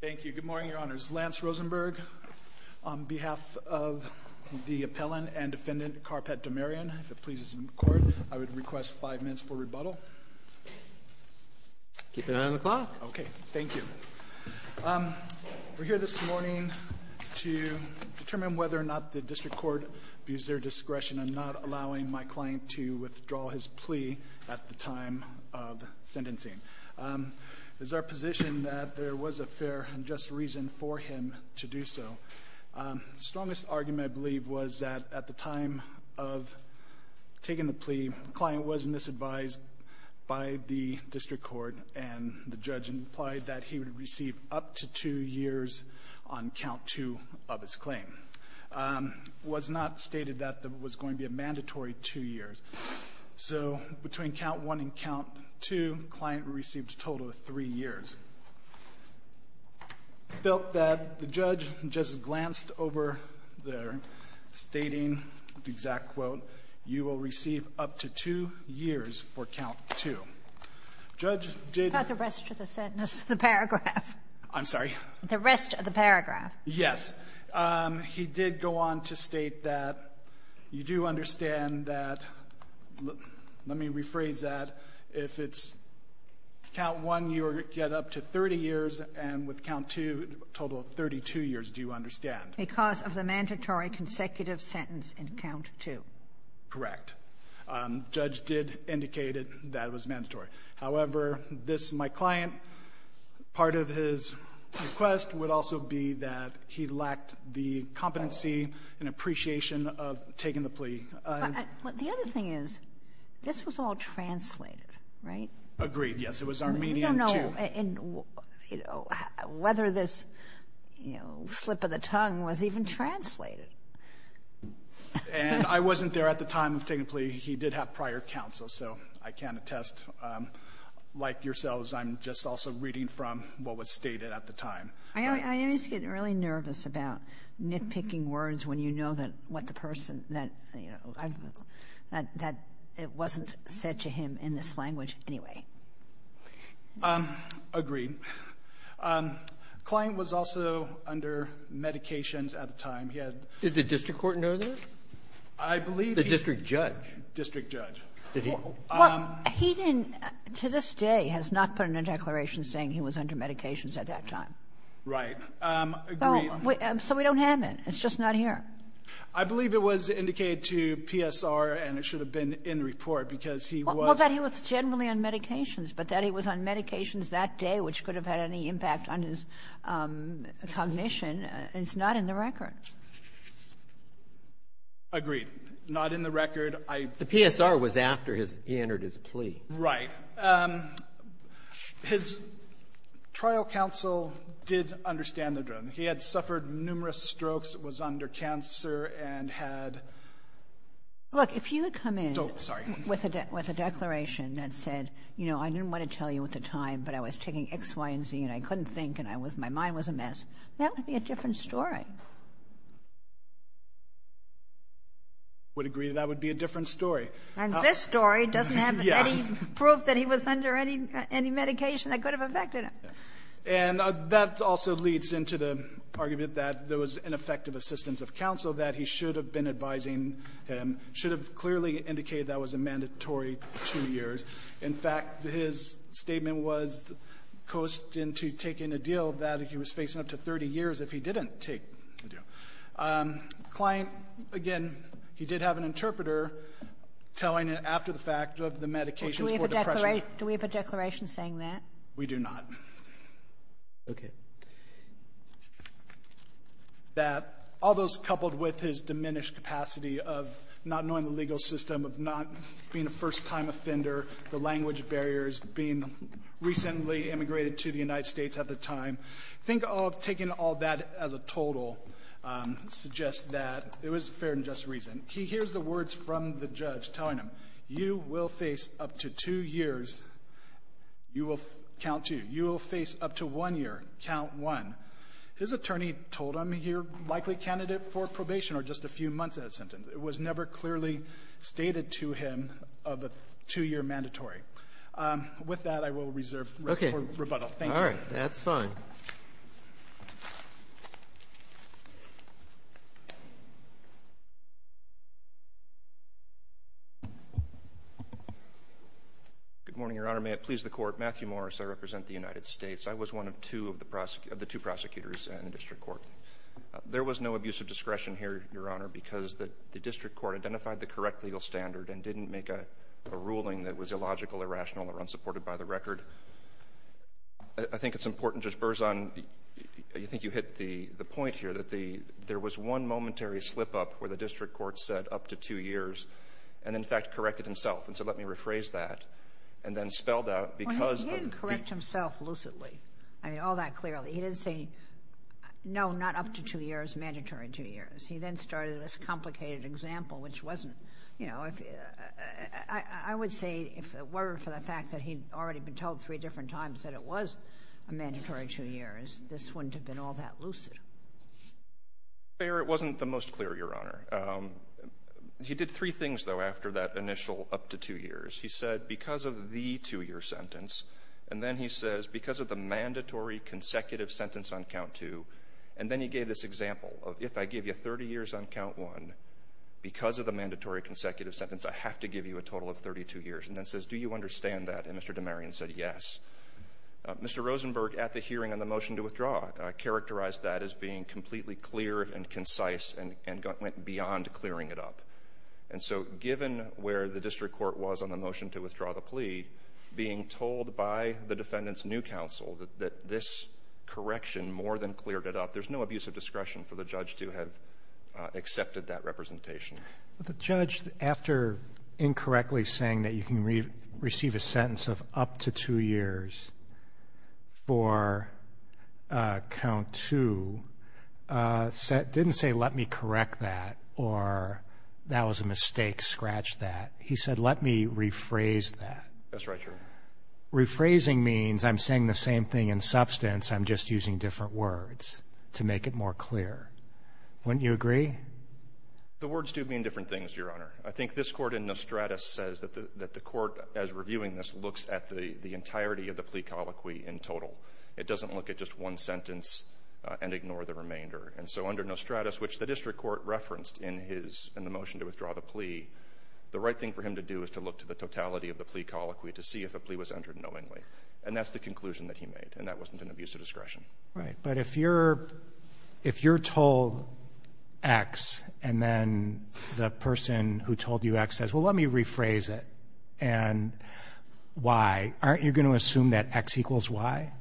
Thank you. Good morning, your honors. Lance Rosenberg, on behalf of the appellant and defendant Karapet Damaryan, if it pleases the court, I would request five minutes for rebuttal. Keep an eye on the clock. Okay, thank you. We're here this morning to determine whether or not the district court views their discretion in not allowing my client to withdraw his plea at the time of sentencing. Is there a position that there was a fair and just reason for him to do so? The strongest argument, I believe, was that at the time of taking the plea, the client was misadvised by the district court, and the judge implied that he would receive up to two years on count two of his claim. It was not stated that it was going to be a mandatory two years. So between count one and count two, the client received a total of three years. It felt that the judge just glanced over there, stating the exact quote, you will receive up to two years for count two. The judge did not the rest of the sentence, the paragraph. The rest of the paragraph. Yes. He did go on to state that you do understand that, let me rephrase that, if it's count one, you get up to 30 years, and with count two, a total of 32 years, do you understand? Because of the mandatory consecutive sentence in count two. Correct. Judge did indicate it, that it was mandatory. However, this, my client, part of his request would also be that he lacked the competency and appreciation of taking the plea. But the other thing is, this was all translated, right? Agreed, yes. It was Armenian, too. No, no. And, you know, whether this, you know, slip of the tongue was even translated. And I wasn't there at the time of taking the plea. He did have prior counsel, so I can attest. Like yourselves, I'm just also reading from what was stated at the time. I always get really nervous about nitpicking words when you know that what the person that, you know, that it wasn't said to him in this language anyway. Agreed. The client was also under medications at the time. He had the district court know that? I believe he was. The district judge. District judge. Well, he didn't, to this day, has not put in a declaration saying he was under medications at that time. Right. Agreed. So we don't have it. It's just not here. I believe it was indicated to PSR, and it should have been in the report, because he was — Well, that he was generally on medications, but that he was on medications that day, which could have had any impact on his cognition, is not in the record. Agreed. Not in the record. I — The PSR was after his — he entered his plea. Right. His trial counsel did understand the drug. He had suffered numerous strokes, was under cancer, and had — Look, if you had come in — Oh, sorry. — with a declaration that said, you know, I didn't want to tell you at the time, but I was taking X, Y, and Z, and I couldn't think, and I was — my mind was a mess, that would be a different story. I would agree that that would be a different story. And this story doesn't have any proof that he was under any medication that could have affected him. And that also leads into the argument that there was ineffective assistance of counsel, that he should have been advising him, should have clearly indicated that was a mandatory two years. In fact, his statement was coasting to taking a deal that he was facing up to 30 years if he didn't take the deal. Client, again, he did have an interpreter telling him after the fact of the medications for depression. Do we have a declaration saying that? We do not. Okay. That all those coupled with his diminished capacity of not knowing the legal system, of not being a first-time offender, the language barriers, being recently immigrated to the United States at the time, think of taking all that as a total, suggest that. It was fair and just reason. He hears the words from the judge telling him, you will face up to two years. You will count two. You will face up to one year. Count one. His attorney told him, you're likely candidate for probation or just a few months out of sentence. It was never clearly stated to him of a two-year mandatory. With that, I will reserve the rest of our rebuttal. Thank you. All right. That's fine. Good morning, Your Honor. May it please the Court. Matthew Morris. I represent the United States. I was one of the two prosecutors in the district court. There was no abuse of discretion here, Your Honor, because the district court identified the correct legal standard and didn't make a ruling that was illogical, irrational, or unsupported by the record. I think it's important, Judge Berzon, I think you hit the point here, that the — there was one momentary slip-up where the district court said up to two years and, in fact, corrected himself. And so let me rephrase that. And then spelled out, because of the — Well, he didn't correct himself lucidly, I mean, all that clearly. He didn't say, no, not up to two years, mandatory two years. He then started this complicated example, which wasn't — you know, if — I would say, if it were for the fact that he'd already been told three different times that it was a mandatory two years, this wouldn't have been all that lucid. Fair. It wasn't the most clear, Your Honor. He did three things, though, after that initial up to two years. He said, because of the two-year sentence, and then he says, because of the mandatory consecutive sentence on count two, and then he gave this example of, if I give you 30 years on count one, because of the mandatory consecutive sentence, I have to give you a total of 32 years, and then says, do you understand that? And Mr. DeMarian said, yes. Mr. Rosenberg, at the hearing on the motion to withdraw, characterized that as being completely clear and concise and went beyond clearing it up. And so given where the district court was on the motion to withdraw the plea, being told by the defendant's new counsel that this correction more than cleared it up, there's no abuse of discretion for the judge to have accepted that representation. But the judge, after incorrectly saying that you can receive a sentence of up to two years for count two, didn't say, let me correct that or that was a mistake, scratch that. He said, let me rephrase that. That's right, Your Honor. Rephrasing means I'm saying the same thing in substance. I'm just using different words to make it more clear. Wouldn't you agree? The words do mean different things, Your Honor. I think this court in Nostratus says that the court, as reviewing this, looks at the entirety of the plea colloquy in total. It doesn't look at just one sentence and ignore the remainder. And so under Nostratus, which the district court referenced in the motion to withdraw the plea, the right thing for him to do is to look to the totality of the plea colloquy to see if a plea was entered knowingly. And that's the conclusion that he made, and that wasn't an abuse of discretion. Right. But if you're told X, and then the person who told you X says, well, let me rephrase it, and Y, aren't you going to assume that X equals Y?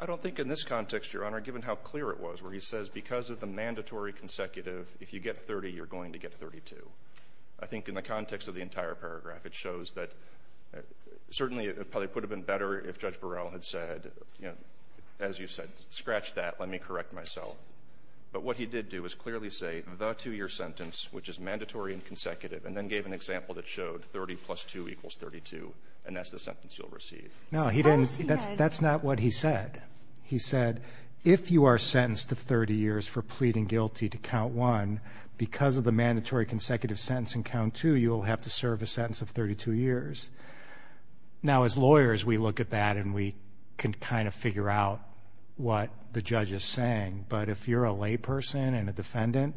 I don't think in this context, Your Honor, given how clear it was where he says because of the mandatory consecutive, if you get 30, you're going to get 32. I think in the context of the entire paragraph, it shows that certainly it probably would have been better if Judge Burrell had said, as you said, scratch that, let me correct myself. But what he did do is clearly say the two-year sentence, which is mandatory and consecutive, and then gave an example that showed 30 plus 2 equals 32, and that's the sentence you'll receive. No, he didn't. That's not what he said. He said if you are sentenced to 30 years for pleading guilty to count one, because of the mandatory consecutive sentence in count two, you'll have to serve a sentence of 32 years. Now, as lawyers, we look at that and we can kind of figure out what the judge is saying. But if you're a layperson and a defendant,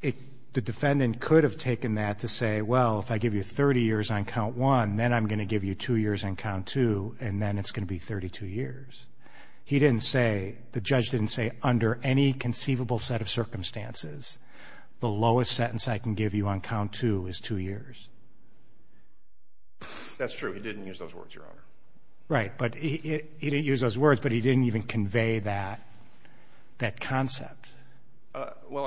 the defendant could have taken that to say, well, if I give you 30 years on count one, then I'm going to give you two years on count two, and then it's going to be 32 years. He didn't say, the judge didn't say, under any conceivable set of circumstances, the lowest sentence I can give you on count two is two years. That's true. He didn't use those words, Your Honor. Right. But he didn't use those words, but he didn't even convey that concept. Well,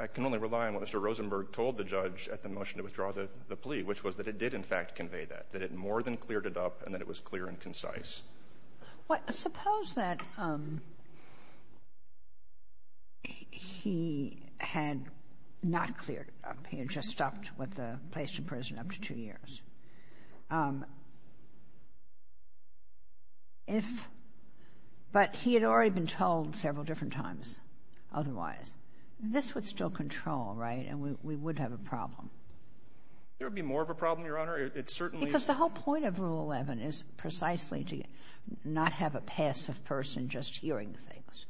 I can only rely on what Mr. Rosenberg told the judge at the motion to withdraw the plea, which was that it did, in fact, convey that, that it more than cleared it up and that it was clear and concise. Well, suppose that he had not cleared it up. He had just stopped with the place in prison up to two years. If he had already been told several different times otherwise, this would still control, right, and we would have a problem. There would be more of a problem, Your Honor. It certainly is. But the whole point of Rule 11 is precisely to not have a passive person just hearing things.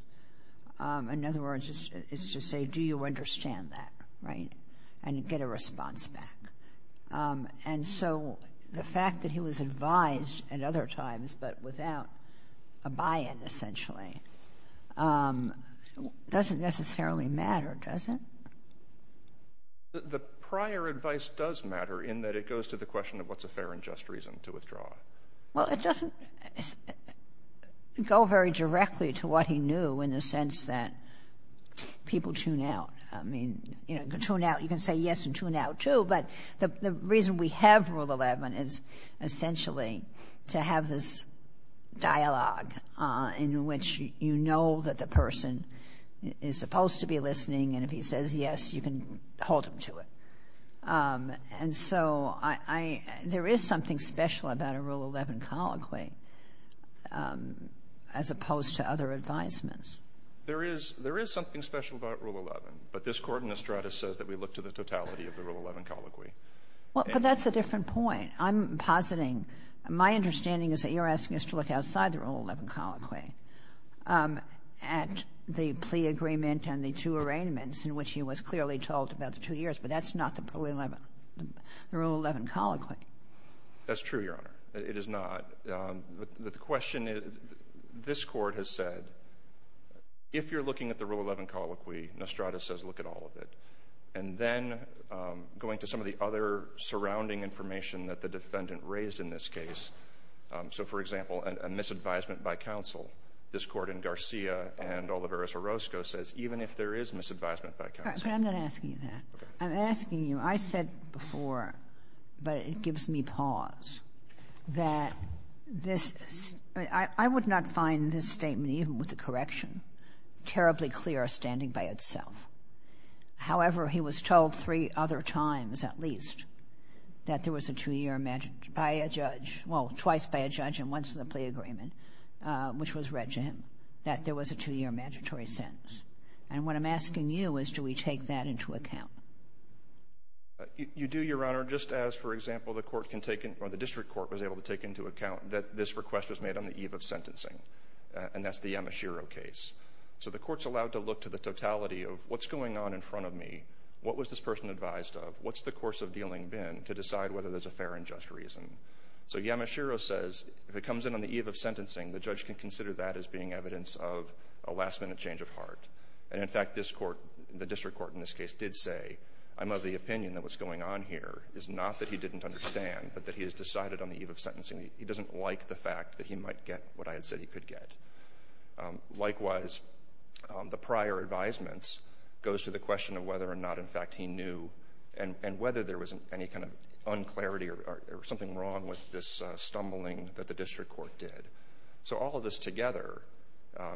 In other words, it's to say, do you understand that, right, and get a response back. And so the fact that he was advised at other times but without a buy-in, essentially, doesn't necessarily matter, does it? The prior advice does matter in that it goes to the question of what's a fair and just reason to withdraw. Well, it doesn't go very directly to what he knew in the sense that people tune out. I mean, you know, tune out, you can say yes and tune out, too, but the reason we have Rule 11 is essentially to have this dialogue in which you know that the person is supposed to be listening, and if he says yes, you can hold him to it. And so I — there is something special about a Rule 11 colloquy as opposed to other advisements. There is — there is something special about Rule 11, but this Court in Estrada says that we look to the totality of the Rule 11 colloquy. Well, but that's a different point. I'm positing — my understanding is that you're asking us to look outside the Rule 11 colloquy at the plea agreement and the two arraignments in which he was clearly told about the two years, but that's not the Rule 11 — the Rule 11 colloquy. That's true, Your Honor. It is not. But the question is — this Court has said if you're looking at the Rule 11 colloquy, Estrada says look at all of it. And then going to some of the other surrounding information that the defendant raised in this case, so, for example, a misadvisement by counsel, this Court in Garcia and Olivares-Orozco says even if there is misadvisement by counsel. But I'm not asking you that. I'm asking you — I said before, but it gives me pause, that this — I would not find this statement, even with the correction, terribly clear standing by itself. However, he was told three other times, at least, that there was a two-year — by a judge — well, twice by a judge and once in the plea agreement, which was read to him, that there was a two-year mandatory sentence. And what I'm asking you is, do we take that into account? You do, Your Honor, just as, for example, the court can take — or the district court was able to take into account that this request was made on the eve of sentencing, and that's the Amashiro case. So the Court's allowed to look to the totality of what's going on in front of me, what was this person advised of, what's the course of dealing been, to decide whether there's a fair and just reason. So Yamashiro says, if it comes in on the eve of sentencing, the judge can consider that as being evidence of a last-minute change of heart. And in fact, this court — the district court in this case did say, I'm of the opinion that what's going on here is not that he didn't understand, but that he has decided on the eve of sentencing that he doesn't like the fact that he might get what I had said he could get. Likewise, the prior advisements goes to the question of whether or not, in fact, he knew and whether there was any kind of un-clarity or something wrong with this stumbling that the district court did. So all of this together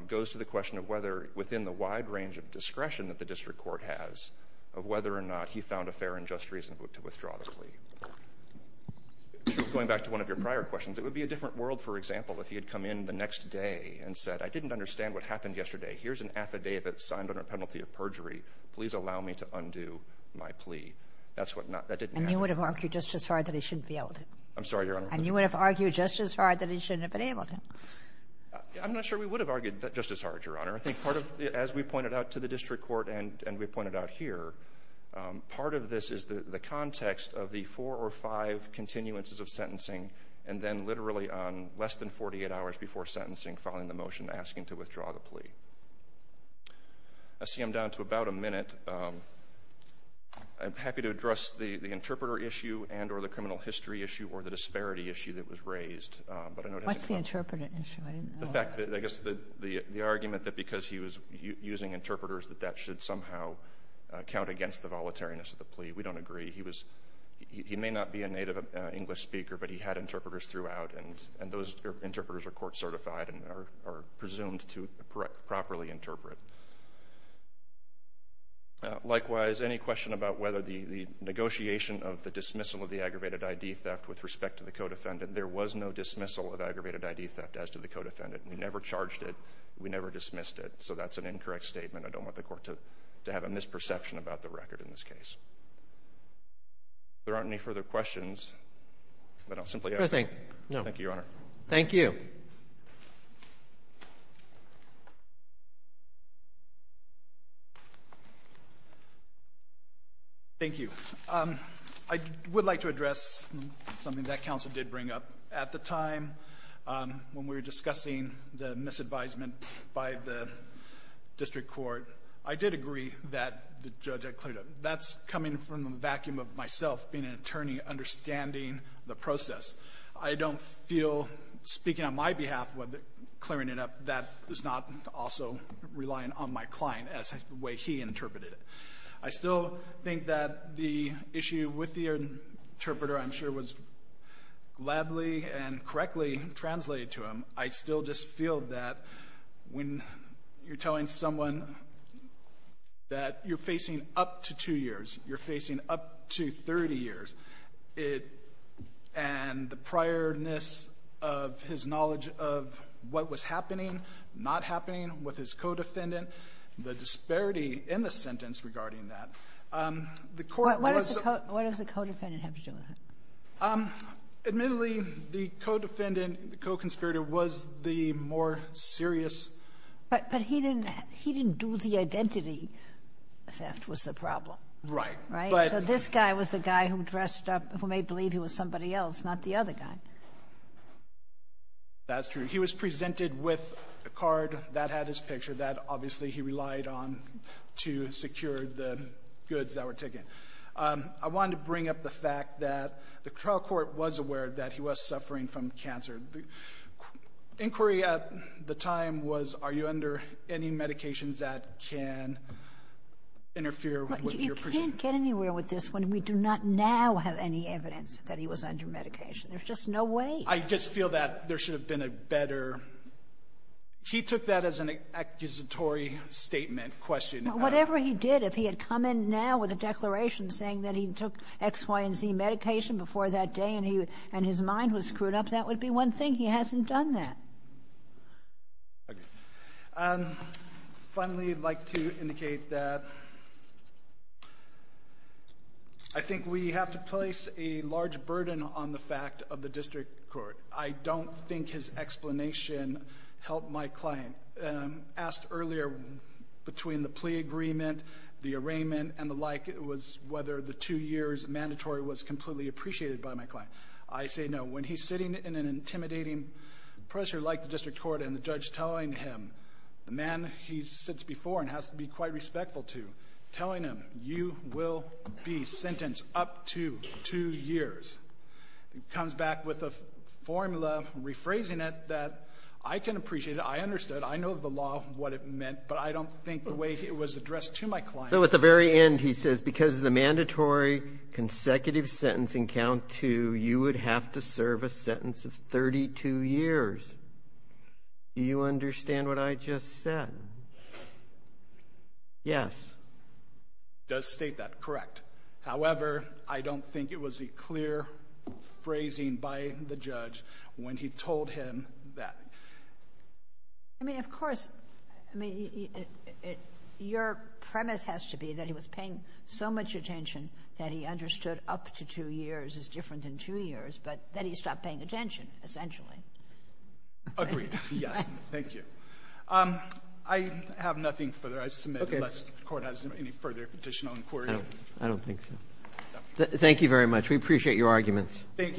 goes to the question of whether, within the wide range of discretion that the district court has, of whether or not he found a fair and just reason to withdraw the plea. Going back to one of your prior questions, it would be a different world, for example, if he had come in the next day and said, I didn't understand what happened yesterday. Here's an affidavit signed under penalty of perjury. Please allow me to undo my plea. That's what not — that didn't happen. And you would have argued just as hard that he shouldn't be able to? I'm sorry, Your Honor. And you would have argued just as hard that he shouldn't have been able to? I'm not sure we would have argued that just as hard, Your Honor. I think part of — as we pointed out to the district court and we pointed out here, part of this is the context of the four or five continuances of sentencing and then literally on less than 48 hours before sentencing following the motion asking to withdraw the plea. I see I'm down to about a minute. I'm happy to address the interpreter issue and or the criminal history issue or the disparity issue that was raised. But I note — What's the interpreter issue? I didn't know that. The fact that — I guess the argument that because he was using interpreters that that should somehow count against the volatileness of the plea. We don't agree. He was — he may not be a native English speaker, but he had interpreters throughout, and those interpreters are court certified and are presumed to properly interpret. Likewise, any question about whether the negotiation of the dismissal of the aggravated I.D. theft with respect to the co-defendant, there was no dismissal of aggravated I.D. theft as to the co-defendant. We never charged it. We never dismissed it. So that's an incorrect statement. I don't want the court to have a misperception about the record in this case. There aren't any further questions, but I'll simply — No. Thank you, Your Honor. Thank you. Thank you. I would like to address something that counsel did bring up at the time when we were discussing the misadvisement by the district court. I did agree that the judge had cleared up. That's coming from a vacuum of myself being an attorney, understanding the process. I don't feel, speaking on my behalf, whether clearing it up, that is not also relying on my client as the way he interpreted it. I still think that the issue with the interpreter, I'm sure, was gladly and correctly translated to him. I still just feel that when you're telling someone that you're facing up to two years, you're facing up to 30 years, it — and the priorness of his knowledge of what was happening, not happening with his co-defendant, the disparity in the sentence regarding that, the court was — What does the co-defendant have to do with it? Admittedly, the co-defendant, the co-conspirator was the more serious — But he didn't — he didn't do the identity theft was the problem. Right. Right. So this guy was the guy who dressed up — who made believe he was somebody else, not the other guy. That's true. He was presented with a card that had his picture that, obviously, he relied on to secure the goods that were taken. I wanted to bring up the fact that the trial court was aware that he was suffering from cancer. The inquiry at the time was, are you under any medications that can interfere with your — We can't get anywhere with this one. We do not now have any evidence that he was under medication. There's just no way. I just feel that there should have been a better — he took that as an accusatory statement question. Whatever he did, if he had come in now with a declaration saying that he took X, Y, and Z medication before that day and he — and his mind was screwed up, that would be one thing. He hasn't done that. Finally, I'd like to indicate that I think we have to place a large burden on the fact of the district court. I don't think his explanation helped my client. Asked earlier between the plea agreement, the arraignment, and the like was whether the two years mandatory was completely appreciated by my client. I say no. When he's sitting in an intimidating pressure like the district court and the judge telling him, the man he sits before and has to be quite respectful to, telling him, you will be sentenced up to two years, comes back with a formula, rephrasing it, that I can appreciate it. I understood. I know the law, what it meant. But I don't think the way it was addressed to my client — You would have to serve a sentence of 32 years. Do you understand what I just said? Yes. It does state that. Correct. However, I don't think it was a clear phrasing by the judge when he told him that. I mean, of course, I mean, your premise has to be that he was paying so much attention that he understood up to two years is different than two years, but then he stopped paying attention, essentially. Agreed. Yes. Thank you. I have nothing further I submit unless the Court has any further petition or inquiry. I don't think so. Thank you very much. We appreciate your arguments. Thank you.